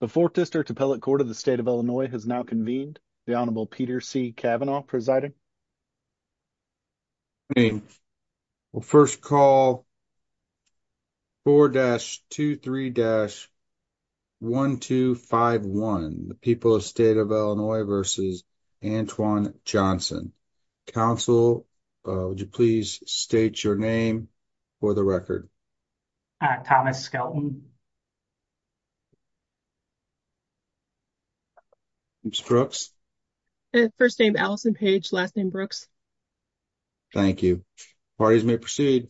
The 4th District Appellate Court of the State of Illinois has now convened. The Honorable Peter C. Cavanaugh presiding. First call 4-23-1251, the people of the State of Illinois v. Antwon Johnson. Counsel, would you please state your name for the record? Thomas Skelton. Brooks. First name Allison Page, last name Brooks. Thank you parties may proceed.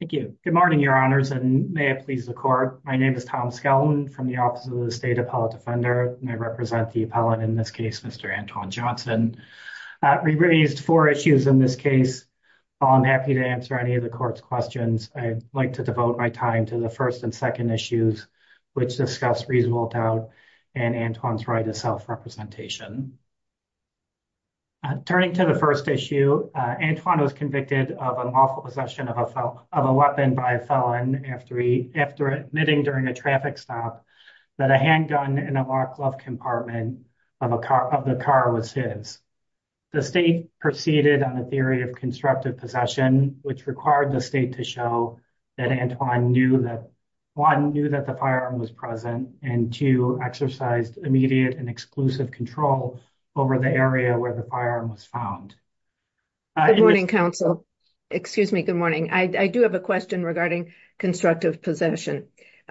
Thank you good morning, Your Honors and may it please the court. My name is Tom Skelton from the Office of the State Appellate Defender and I represent the appellate in this case, Mr. Antwon Johnson. We raised four issues in this case. While I'm happy to answer any of the court's questions, I'd like to devote my time to the first and second issues, which discuss reasonable doubt and Antwon's right to self-representation. Turning to the first issue, Antwon was convicted of unlawful possession of a weapon by a felon after admitting during a traffic stop that a handgun in a lock glove compartment of the car was his. The state proceeded on a theory of constructive possession, which required the state to show that Antwon knew that the firearm was present and to exercise immediate and exclusive control over the area where the firearm was found. Good morning, counsel. Excuse me. Good morning. I do have a question regarding constructive possession.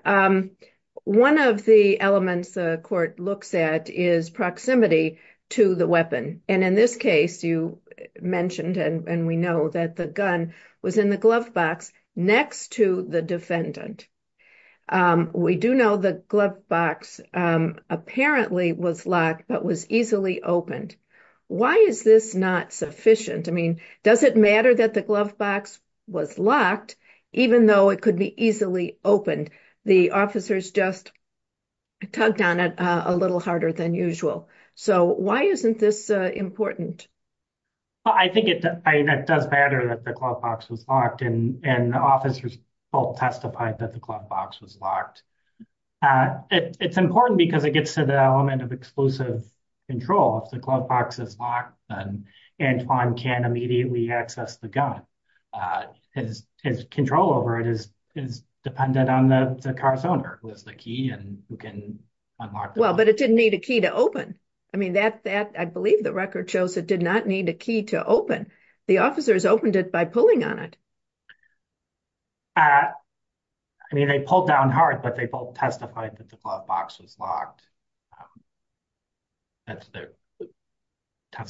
One of the elements the court looks at is proximity to the weapon. And in this case, you mentioned and we know that the gun was in the glove box next to the defendant. We do know the glove box apparently was locked, but was easily opened. Why is this not sufficient? I mean, does it matter that the glove box was locked, even though it could be easily opened? The officers just tugged on it a little harder than usual. So why isn't this important? I think it does matter that the glove box was locked and the officers both testified that the glove box was locked. It's important because it gets to the element of exclusive control. If the glove box is locked, then Antwon can't immediately access the gun. His control over it is dependent on the car's owner, who has the key and who can unlock it. Well, but it didn't need a key to open. I mean, I believe the record shows it did not need a key to open. The officers opened it by pulling on it. I mean, they pulled down hard, but they both testified that the glove box was locked.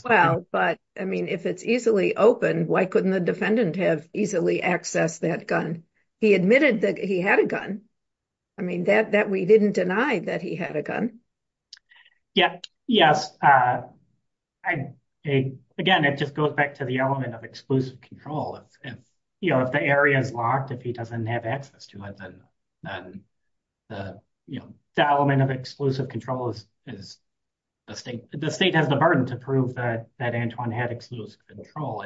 Well, but I mean, if it's easily open, why couldn't the defendant have easily access that gun? He admitted that he had a gun. I mean, that we didn't deny that he had a gun. Yes. Again, it just goes back to the element of exclusive control. If the area is locked, if he doesn't have access to it, then the element of exclusive control is distinct. The state has the burden to prove that Antwon had exclusive control.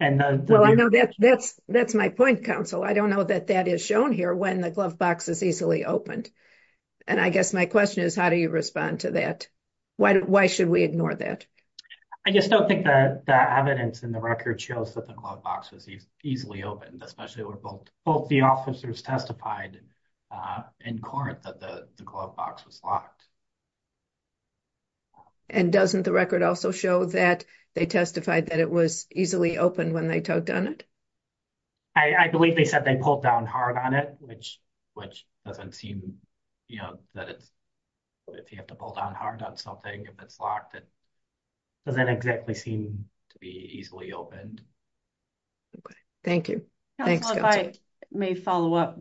That's my point, counsel. I don't know that that is shown here when the glove box is easily opened. And I guess my question is, how do you respond to that? Why should we ignore that? I just don't think that the evidence in the record shows that the glove box was easily open, especially when both the officers testified in court that the glove box was locked. And doesn't the record also show that they testified that it was easily open when they opened it? I believe they said they pulled down hard on it, which doesn't seem, you know, that it's, if you have to pull down hard on something, if it's locked, it doesn't exactly seem to be easily opened. Okay. Thank you. Thanks. Counsel, if I may follow up,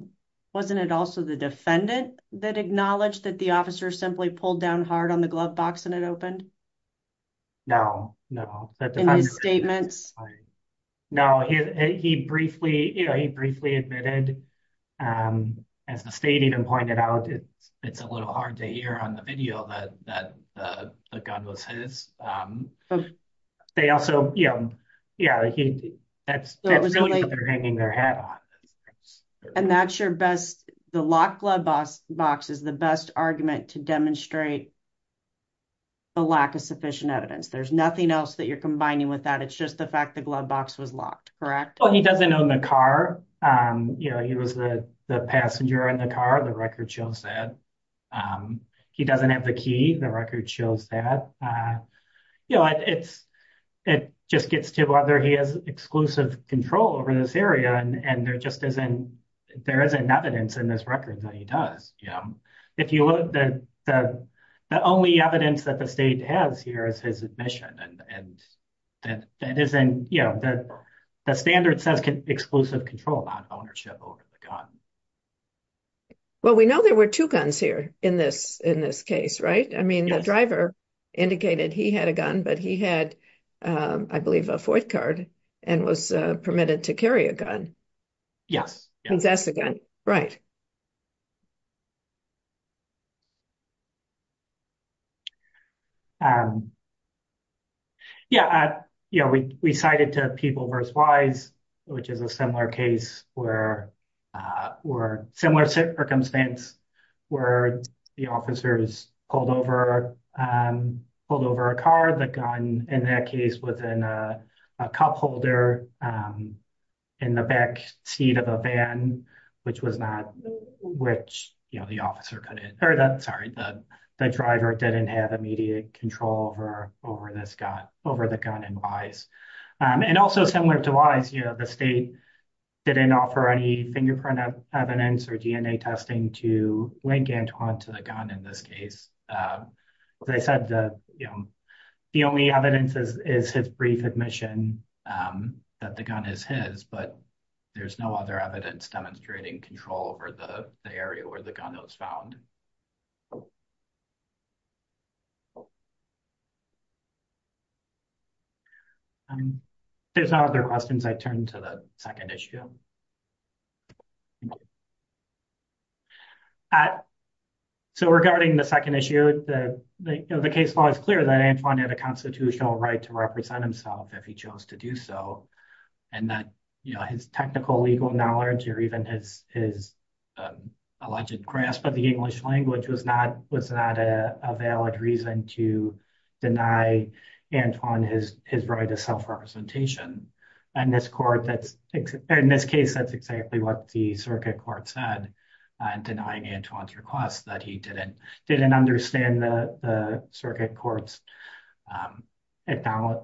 wasn't it also the defendant that acknowledged that the officer simply pulled down hard on the glove box and it opened? No, no. In his statements? Right. No, he briefly, you know, he briefly admitted, as the state even pointed out, it's a little hard to hear on the video that the gun was his. They also, you know, yeah, that's really what they're hanging their head on. And that's your best, the locked glove box is the best argument to demonstrate the lack of sufficient evidence. There's nothing else that you're combining with that. It's just the fact the glove box was locked, correct? Well, he doesn't own the car. You know, he was the passenger in the car. The record shows that. He doesn't have the key. The record shows that. You know, it's, it just gets to whether he has exclusive control over this area. And there just isn't, there isn't evidence in this record that he does. If you look, the only evidence that the state has here is his admission. And that isn't, you know, that the standard says exclusive control about ownership over the gun. Well, we know there were two guns here in this case, right? I mean, the driver indicated he had a gun, but he had, I believe, a fourth card and was permitted to carry a gun. Yes. Possess a gun, right. Yeah. Yeah. We cited to People vs. Wise, which is a similar case where, or similar circumstance where the officers pulled over, pulled over a car, the gun, in that case, within a cup holder in the back seat of a van, which was not, which, you know, the officer couldn't, or that, sorry, the, the driver didn't have immediate control over, over this gun, over the gun in Wise. And also similar to Wise, you know, the state didn't offer any fingerprint evidence or DNA testing to link Antoine to the gun in this case. They said that, you know, the only evidence is, his brief admission that the gun is his, but there's no other evidence demonstrating control over the area where the gun was found. There's no other questions. I turn to the second issue. So regarding the second issue, the, you know, the case law is clear that Antoine had a right to represent himself if he chose to do so. And that, you know, his technical legal knowledge or even his, his alleged grasp of the English language was not, was not a valid reason to deny Antoine his, his right to self-representation. And this court that's, in this case, that's exactly what the circuit court said, denying Antoine's request that he didn't, didn't understand the circuit court's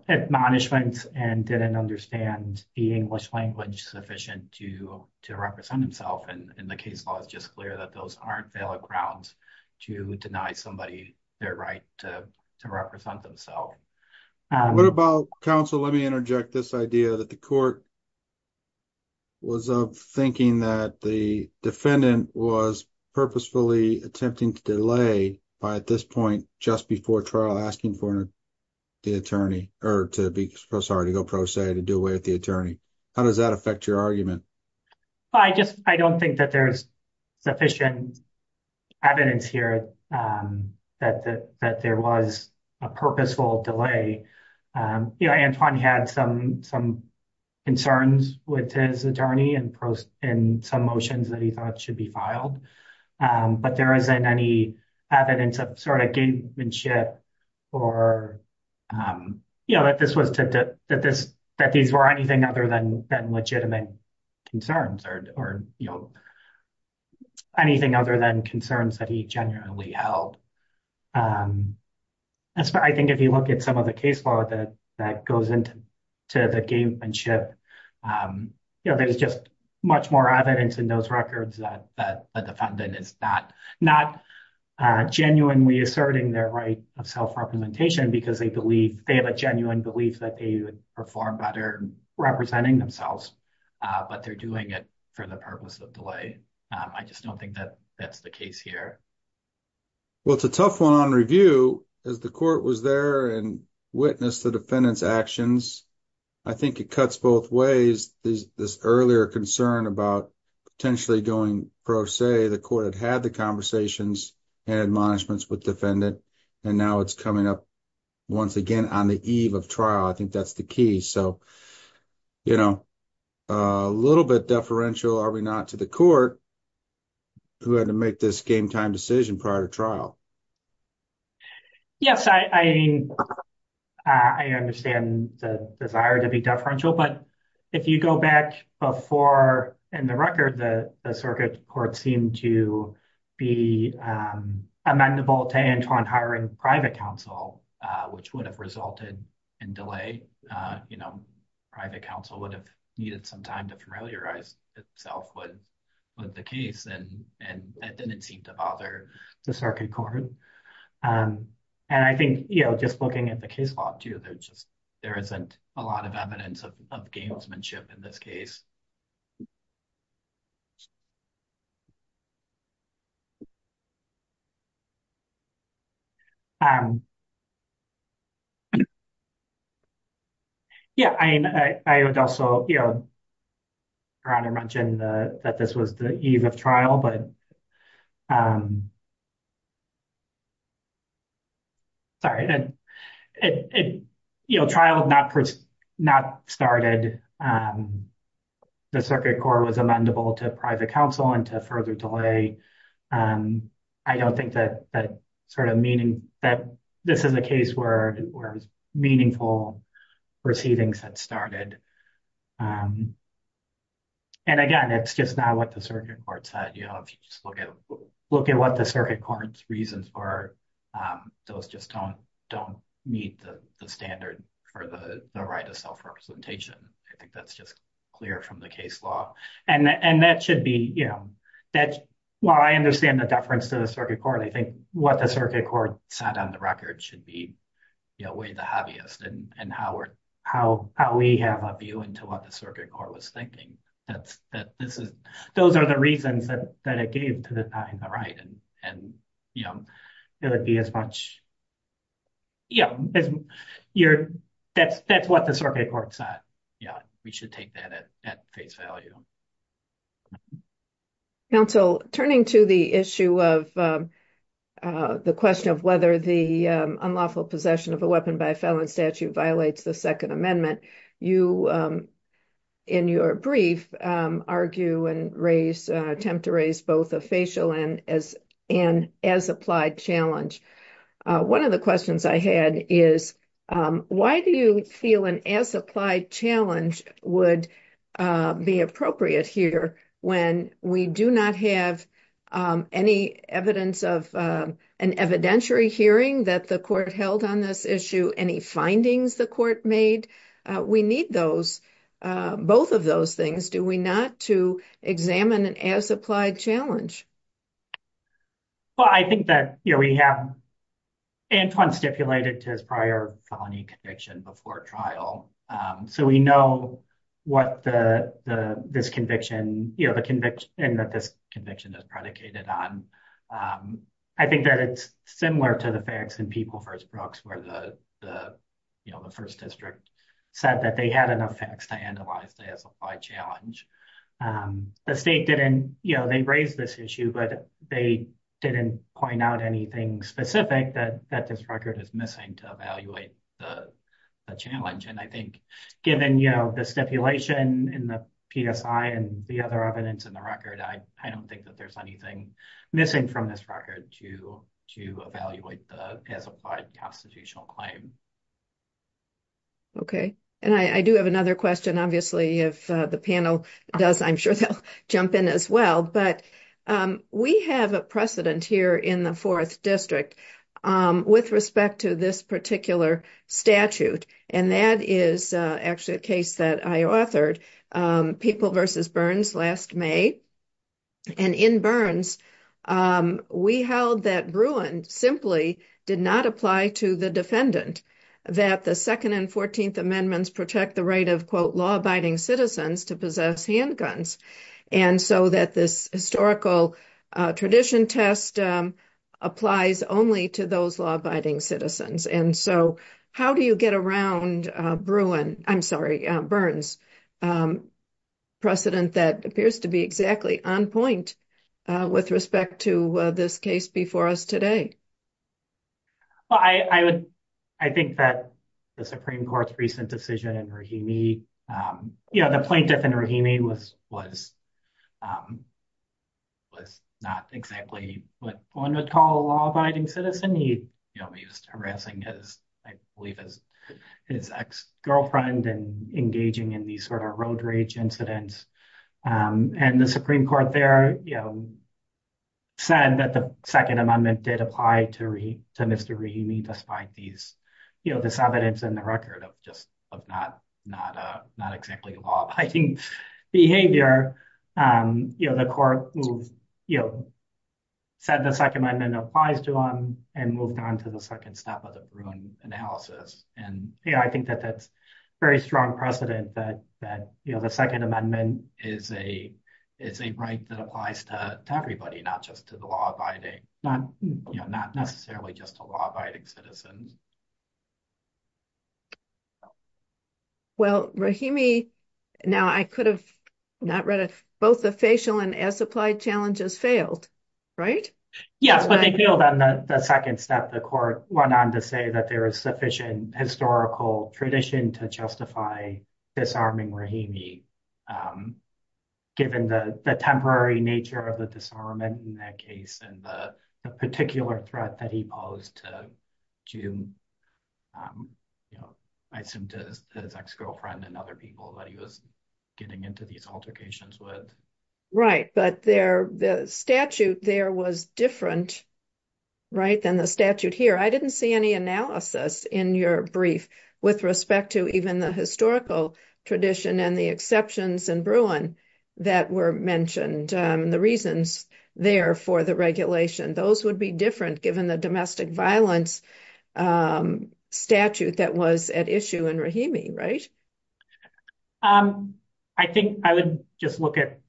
admonishments and didn't understand the English language sufficient to, to represent himself. And the case law is just clear that those aren't valid grounds to deny somebody their right to represent themselves. What about counsel? Let me interject this idea that the court was thinking that the defendant was purposefully attempting to delay by, at this point, just before trial asking for the attorney, or to be, sorry, to go pro se, to do away with the attorney. How does that affect your argument? I just, I don't think that there's sufficient evidence here that, that, that there was a purposeful delay. You know, Antoine had some, some concerns with his attorney and in some motions that he thought should be filed. But there isn't any evidence of, sort of, gamemanship or, you know, that this was to, that this, that these were anything other than, than legitimate concerns or, or, you know, anything other than concerns that he genuinely held. I think if you look at some of the case law that, that goes into, to the gamemanship, you know, there's just much more evidence in those records that, that the defendant is not, not genuinely asserting their right of self-representation because they believe, they have a genuine belief that they would perform better representing themselves. But they're doing it for the purpose of delay. I just don't think that that's the case here. Well, it's a tough one on review as the court was there and witnessed the defendant's actions. I think it cuts both ways. This earlier concern about potentially going pro se, the court had had the conversations and admonishments with defendant and now it's coming up once again on the eve of trial. I think that's the key. So, you know, a little bit deferential, are we not, to the court who had to make this game time decision prior to trial? Yes, I, I mean, I understand the desire to be deferential, but if you go back before in the record, the circuit court seemed to be amenable to Antoine hiring private counsel, which would have resulted in delay. You know, private counsel would have needed some time to familiarize itself with the case and that didn't seem to bother the circuit court. And I think, you know, just looking at the case law too, there's just, there isn't a lot of evidence of gamesmanship in this case. Yeah, I would also, you know, Ron had mentioned that this was the eve of trial, but, sorry, you know, trial had not started, the circuit court was amendable to private counsel and to further delay. I don't think that sort of meaning that this is a case where meaningful proceedings had started. And again, it's just not what the circuit court said, if you just look at what the circuit court's reasons are, those just don't meet the standard for the right of self-representation. I think that's just clear from the case law. And that should be, you know, that's why I understand the deference to the circuit court. I think what the circuit court sat on the record should be, you know, way the heaviest and how we have a view into what the circuit court was thinking. Those are the reasons that it gave to the guy on the right. And, you know, it would be as much, yeah, that's what the circuit court said. Yeah, we should take that at face value. Counsel, turning to the issue of the question of whether the unlawful possession of a weapon by felon statute violates the second amendment, you, in your brief, argue and attempt to raise both a facial and as applied challenge. One of the questions I had is, why do you feel an as applied challenge would be appropriate here when we do not have any evidence of an evidentiary hearing that the court held on this issue? Any findings the court made? We need those, both of those things. Do we not to examine an as applied challenge? Well, I think that, you know, we have Antoine stipulated to his prior felony conviction before trial. So we know what the, this conviction, you know, the conviction that this conviction is on. I think that it's similar to the facts and people first Brooks where the, you know, the first district said that they had enough facts to analyze the as applied challenge. The state didn't, you know, they raised this issue, but they didn't point out anything specific that that this record is missing to evaluate the challenge. And I think given, you know, the stipulation and the PSI and the other evidence in the record, I don't think that there's anything missing from this record to evaluate the as applied constitutional claim. Okay. And I do have another question, obviously, if the panel does, I'm sure they'll jump in as well. But we have a precedent here in the fourth district with respect to this particular statute. And that is actually a case that I authored people versus Burns last May. And in Burns, we held that Bruin simply did not apply to the defendant, that the second and 14th amendments protect the right of quote law abiding citizens to possess handguns. And so that this historical tradition test applies only to those law abiding citizens. And so how do you get around Bruin? I'm sorry, Burns precedent that appears to be exactly on point with respect to this case before us today. Well, I would, I think that the Supreme Court's recent decision in Rahimi, you know, the plaintiff in Rahimi was, was, was not exactly what one would call a law abiding citizen. He, you know, he was harassing his, I believe, his ex girlfriend and engaging in these sort of road rage incidents. And the Supreme Court there, you know, said that the second amendment did apply to Mr. Rahimi, despite these, you know, this evidence in the record of not, not, not exactly law abiding behavior. You know, the court moved, you know, said the second amendment applies to him and moved on to the second step of the Bruin analysis. And I think that that's very strong precedent that, that, you know, the second amendment is a, it's a right that applies to everybody, not just to the law abiding, not, you know, not necessarily just a law abiding citizen. Well, Rahimi, now I could have not read it, both the facial and as applied challenges failed, right? Yes, but they failed on the second step. The court went on to say that there is sufficient historical tradition to justify disarming Rahimi, given the temporary nature of the disarmament in that case, and the particular threat that he posed to, you know, I assume to his ex girlfriend and other people that he was getting into these altercations with. Right, but there, the statute there was different, right, than the statute here. I didn't see any analysis in your brief with respect to even the historical tradition and the exceptions in Bruin that were mentioned, the reasons there for the regulation, those would be different, given the domestic violence statute that was at issue in Rahimi, right? I think I would just look at,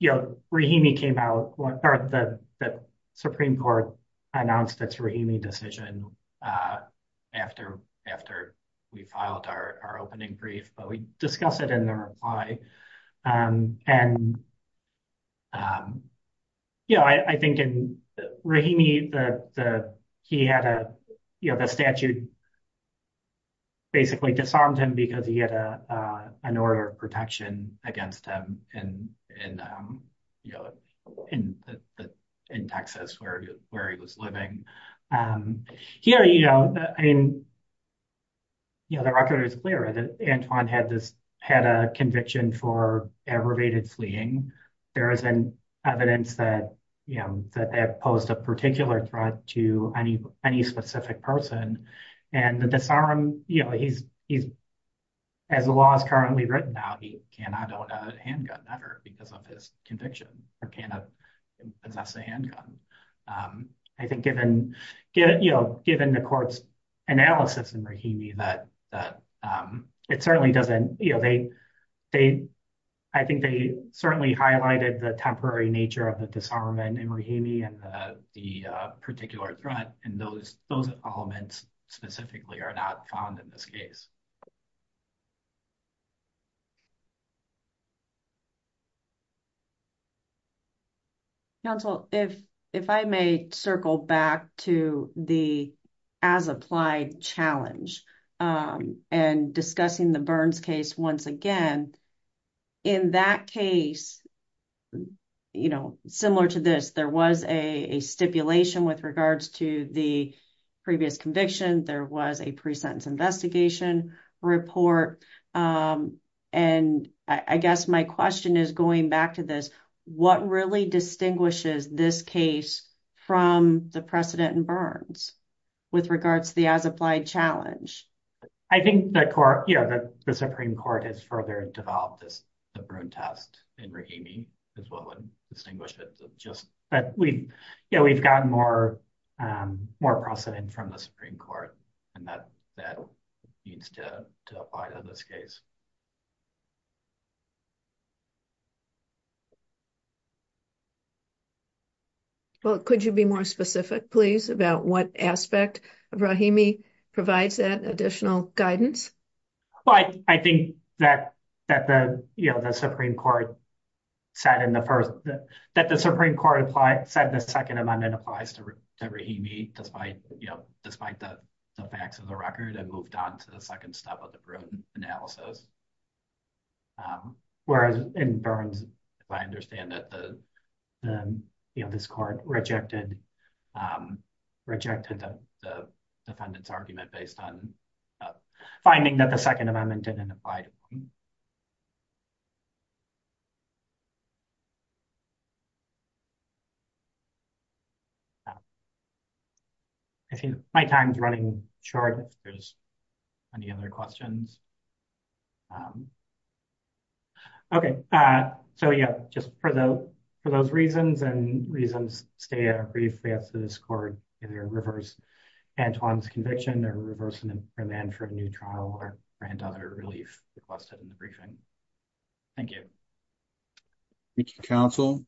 you know, Rahimi came out, or the Supreme Court announced its Rahimi decision after, after we filed our opening brief, but we discuss it in the reply. And, you know, I think in Rahimi, he had a, you know, the statute basically disarmed him because he had an order of protection against him in, you know, in Texas, where he was living. Here, you know, I mean, you know, the record is clear that Antoine had this, had a conviction for aggravated fleeing. There is evidence that, you know, that they have posed a particular threat to any specific person. And the disarm, you know, he's, as the law is currently written now, he cannot own a handgun ever because of his conviction, or cannot possess a handgun. I think given, you know, given the court's analysis in Rahimi that it certainly doesn't, you know, they, they, I think they certainly highlighted the temporary nature of the disarmament in Rahimi and the particular threat, and those elements specifically are not found in this case. Counsel, if, if I may circle back to the as-applied challenge and discussing the Burns case once again, in that case, you know, similar to this, there was a stipulation with regards to the previous conviction, there was a pre-sentence investigation report. And I guess my question is going back to this, what really distinguishes this case from the precedent in Burns with regards to the as-applied challenge? I think the court, you know, the Supreme Court has further developed this test in Rahimi is what would distinguish it, just that we, you know, we've gotten more, more precedent from the Supreme Court, and that, that needs to apply to this case. Well, could you be more specific, please, about what aspect of Rahimi provides that additional guidance? Well, I, I think that, that the, you know, the Supreme Court said in the first, that the Supreme Court applied, said the Second Amendment applies to Rahimi despite, you know, despite the facts of the record and moved on to the second step of the Bruton analysis. Whereas in Burns, I understand that the, you know, this court rejected, rejected the defendant's argument based on finding that the Second Amendment didn't apply. I think my time's running short if there's any other questions. Okay. So, yeah, just for the, for those reasons and reasons, stay at our brief, we have to this court, either reverse Antoine's conviction or reverse an imprimand for a new trial or for another relief requested in the briefing. Thank you. Thank you, counsel.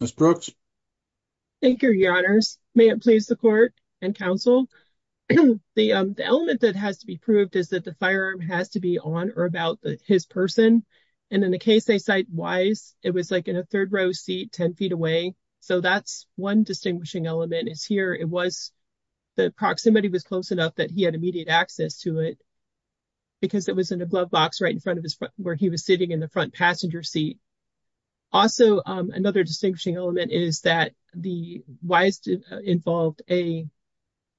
Ms. Brooks. Thank you, your honors. May it please the court and counsel. The, the element that has to be on or about his person and in the case they cite Wise, it was like in a third row seat, 10 feet away. So, that's one distinguishing element is here. It was, the proximity was close enough that he had immediate access to it because it was in a glove box right in front of his, where he was sitting in the front passenger seat. Also, another distinguishing element is that the Wise involved a,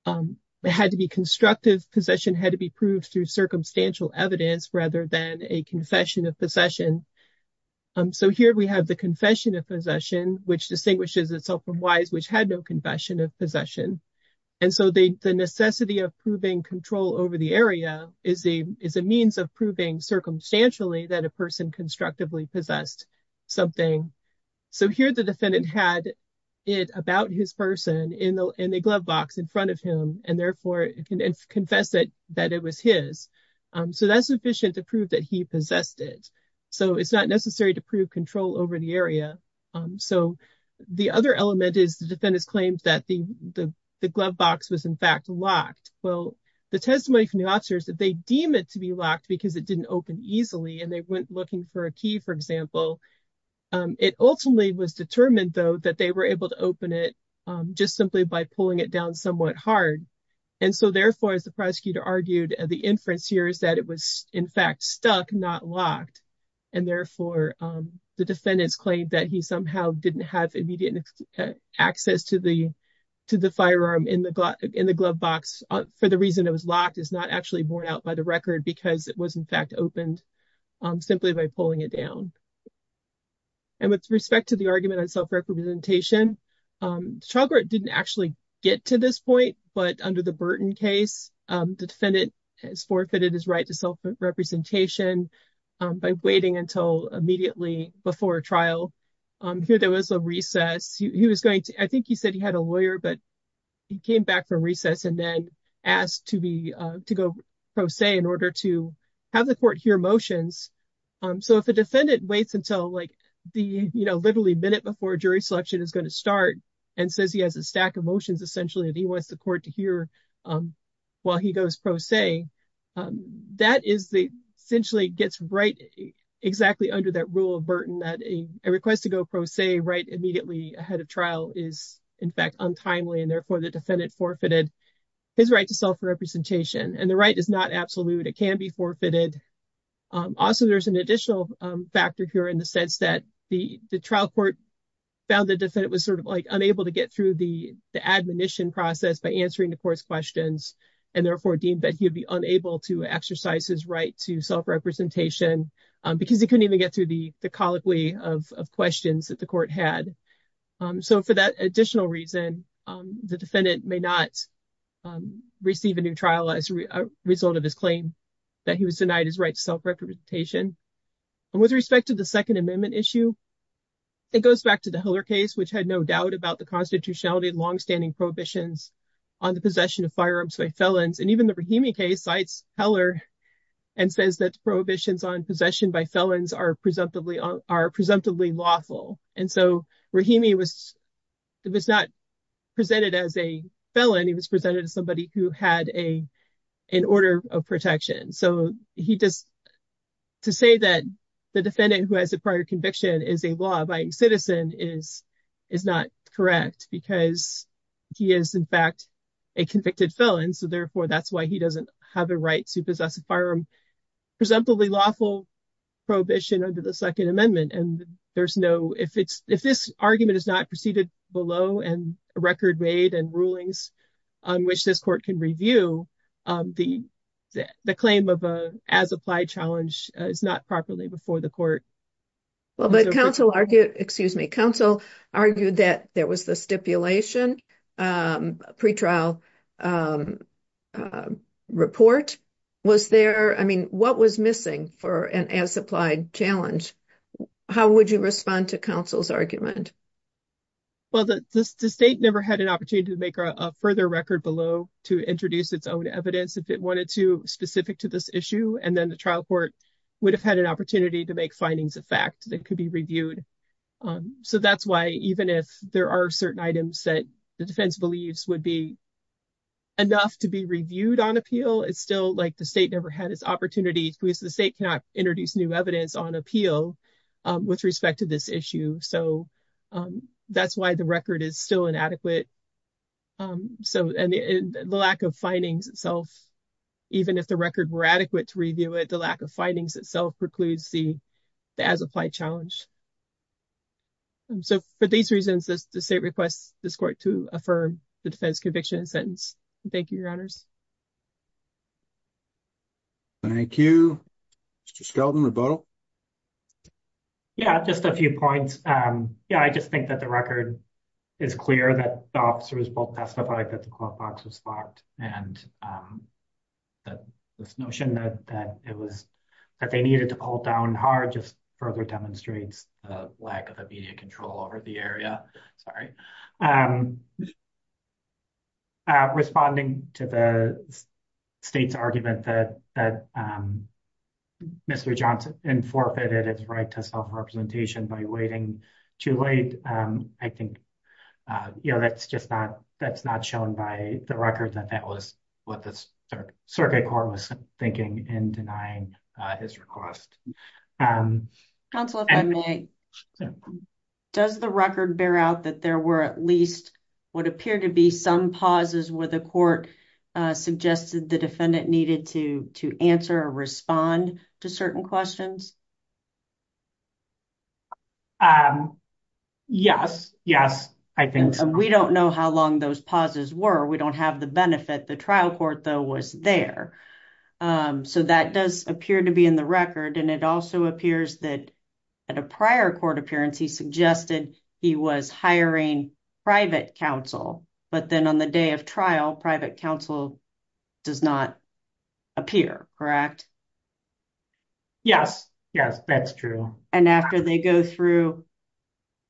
it had to be constructive possession, had to be proved through circumstantial evidence rather than a confession of possession. So, here we have the confession of possession, which distinguishes itself from Wise, which had no confession of possession. And so, the necessity of proving control over the area is a, is a means of proving circumstantially that a person constructively possessed something. So, here the defendant had it about his person in the, in the glove box in front of him and therefore can confess it, that it was his. So, that's sufficient to prove that he possessed it. So, it's not necessary to prove control over the area. So, the other element is the defendant's claims that the, the glove box was in fact locked. Well, the testimony from the officers that they deem it to be locked because it didn't open easily and they went looking for a key, for example. It ultimately was determined though that they were able to open it just simply by pulling it down somewhat hard. And so, therefore, as the prosecutor argued, the inference here is that it was in fact stuck, not locked. And therefore, the defendant's claim that he somehow didn't have immediate access to the, to the firearm in the, in the glove box for the reason it was locked is not actually borne out by the record because it was in fact opened simply by pulling it down. And with respect to the argument on self-representation, child court didn't actually get to this point, but under the Burton case, the defendant has forfeited his right to self-representation by waiting until immediately before trial. Here, there was a recess. He was going to, I think he said he had a lawyer, but he came back for recess and then asked to be, to go pro se in order to have the court hear motions. So, if a defendant waits until like the, you know, literally minute before jury selection is going to start and says he has a stack of motions, essentially, and he wants the court to hear while he goes pro se, that is the, essentially gets right exactly under that rule of Burton, that a request to go pro se right immediately ahead of trial is in fact untimely. And therefore, the defendant forfeited his right to self-representation. And the right is not absolute. It can be forfeited. Also, there's an additional factor here in the sense that the trial court found the defendant was sort of like unable to get through the admonition process by answering the court's questions and therefore deemed that he would be unable to exercise his right to self-representation because he couldn't even get through the colloquy of questions that the court had. So, for that additional reason, the defendant may not receive a new trial as a result of his claim that he was denied his right to self-representation. And with respect to the Second Amendment issue, it goes back to the Heller case, which had no doubt about the constitutionality of longstanding prohibitions on the possession of firearms by felons. And even the Rahimi case cites Heller and says that prohibitions on possession by felons are presumptively lawful. And so Rahimi was not presented as a felon. He was presented as somebody who had an order of protection. So, he just to say that the defendant who has a prior conviction is a law-abiding citizen is not correct because he is, in fact, a convicted felon. So, therefore, that's why he doesn't have a right to possess a firearm. Presumptively lawful prohibition under the Second Amendment. And there's no, if this argument is not preceded below and record made and rulings on which this can review, the claim of an as-applied challenge is not properly before the court. Well, but counsel argued, excuse me, counsel argued that there was the stipulation pre-trial report. Was there, I mean, what was missing for an as-applied challenge? How would you respond to counsel's argument? Well, the state never had an opportunity to make a further record below to introduce its own evidence if it wanted to specific to this issue. And then the trial court would have had an opportunity to make findings of fact that could be reviewed. So, that's why even if there are certain items that the defense believes would be enough to be reviewed on appeal, it's still like the state never had this opportunity because the state cannot introduce new evidence on appeal with respect to this issue. So, that's why the is still inadequate. So, the lack of findings itself, even if the record were adequate to review it, the lack of findings itself precludes the as-applied challenge. So, for these reasons, the state requests this court to affirm the defense conviction sentence. Thank you, your honors. Thank you. Mr. Skelton, rebuttal? Yeah, just a few points. Yeah, I just think that the record is clear that the officers both testified that the court box was locked and that this notion that it was that they needed to hold down hard just further demonstrates the lack of immediate control over the area. Sorry. I'm responding to the state's argument that Mr. Johnson forfeited his right to self-representation by waiting too late. I think, you know, that's just not shown by the record that that was what the circuit court was thinking in denying his request. Counsel, if I may, does the record bear out that there were at least what appear to be some pauses where the court suggested the defendant needed to answer or respond to certain questions? Yes, yes, I think so. We don't know how long those pauses were. We don't have the benefit. The trial court, though, was there. So that does appear to be in the record. And it also appears that at a prior court appearance, he suggested he was hiring private counsel. But then on the day of trial, private counsel does not appear, correct? Yes, yes, that's true. And after they go through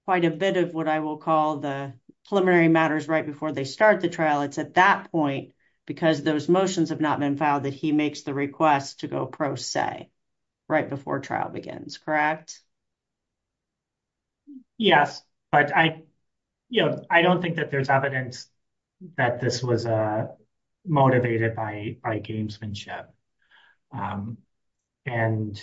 quite a bit of what I will call the preliminary matters right before they start the trial, it's at that point, because those motions have not been filed, that he makes the request to go pro se right before trial begins, correct? Yes, but I, you know, I don't think that there's evidence that this was motivated by gamesmanship. And,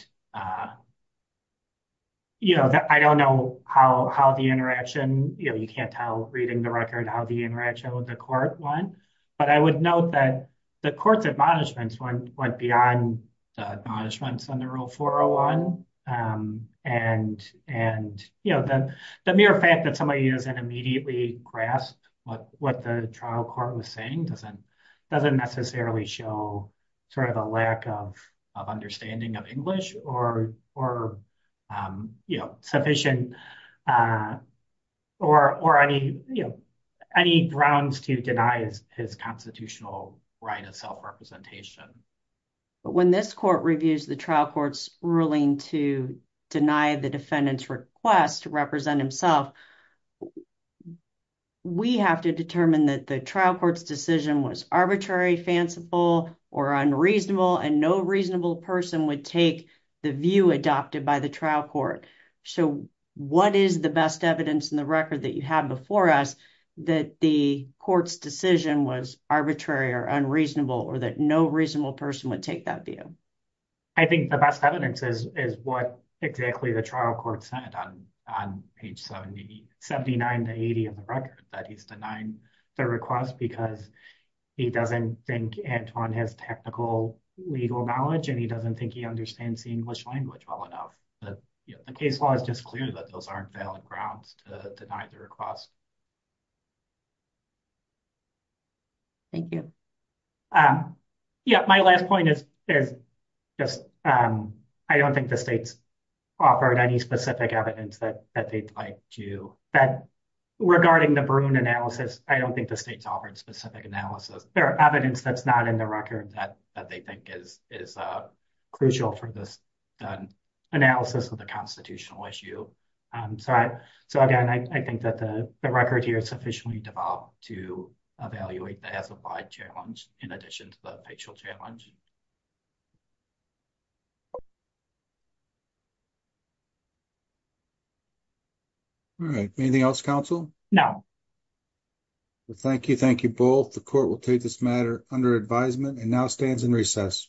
you know, I don't know how the interaction, you know, you can't tell reading the record how the interaction with the court went. But I would note that the court's admonishments went beyond the admonishments under Rule 401. And, you know, the mere fact that somebody doesn't immediately grasp what the trial court was saying doesn't necessarily show sort of a lack of understanding of English or, you know, sufficient or any, you know, any grounds to deny his constitutional right of self-representation. But when this court reviews the trial court's ruling to deny the defendant's request to represent himself, we have to determine that the trial court's decision was arbitrary, fanciful, or unreasonable, and no reasonable person would take the view adopted by the trial court. So, what is the best evidence in the record that you have before us that the court's decision was arbitrary or unreasonable or that no reasonable person would take that view? I think the best evidence is what exactly the trial court said on page 79 to 80 of the record, that he's denying the request because he doesn't think Antoine has technical legal knowledge and doesn't think he understands the English language well enough. The case law is just clear that those aren't valid grounds to deny the request. Thank you. Yeah, my last point is just I don't think the states offered any specific evidence that they'd like to, that regarding the Bruin analysis, I don't think the states offered specific analysis. There are evidence that's not in the record that they think is crucial for this analysis of the constitutional issue. So, again, I think that the record here is sufficiently developed to evaluate the classified challenge in addition to the official challenge. All right. Anything else, counsel? No. Well, thank you. Thank you both. The court will take this matter under advisement and now stands in recess.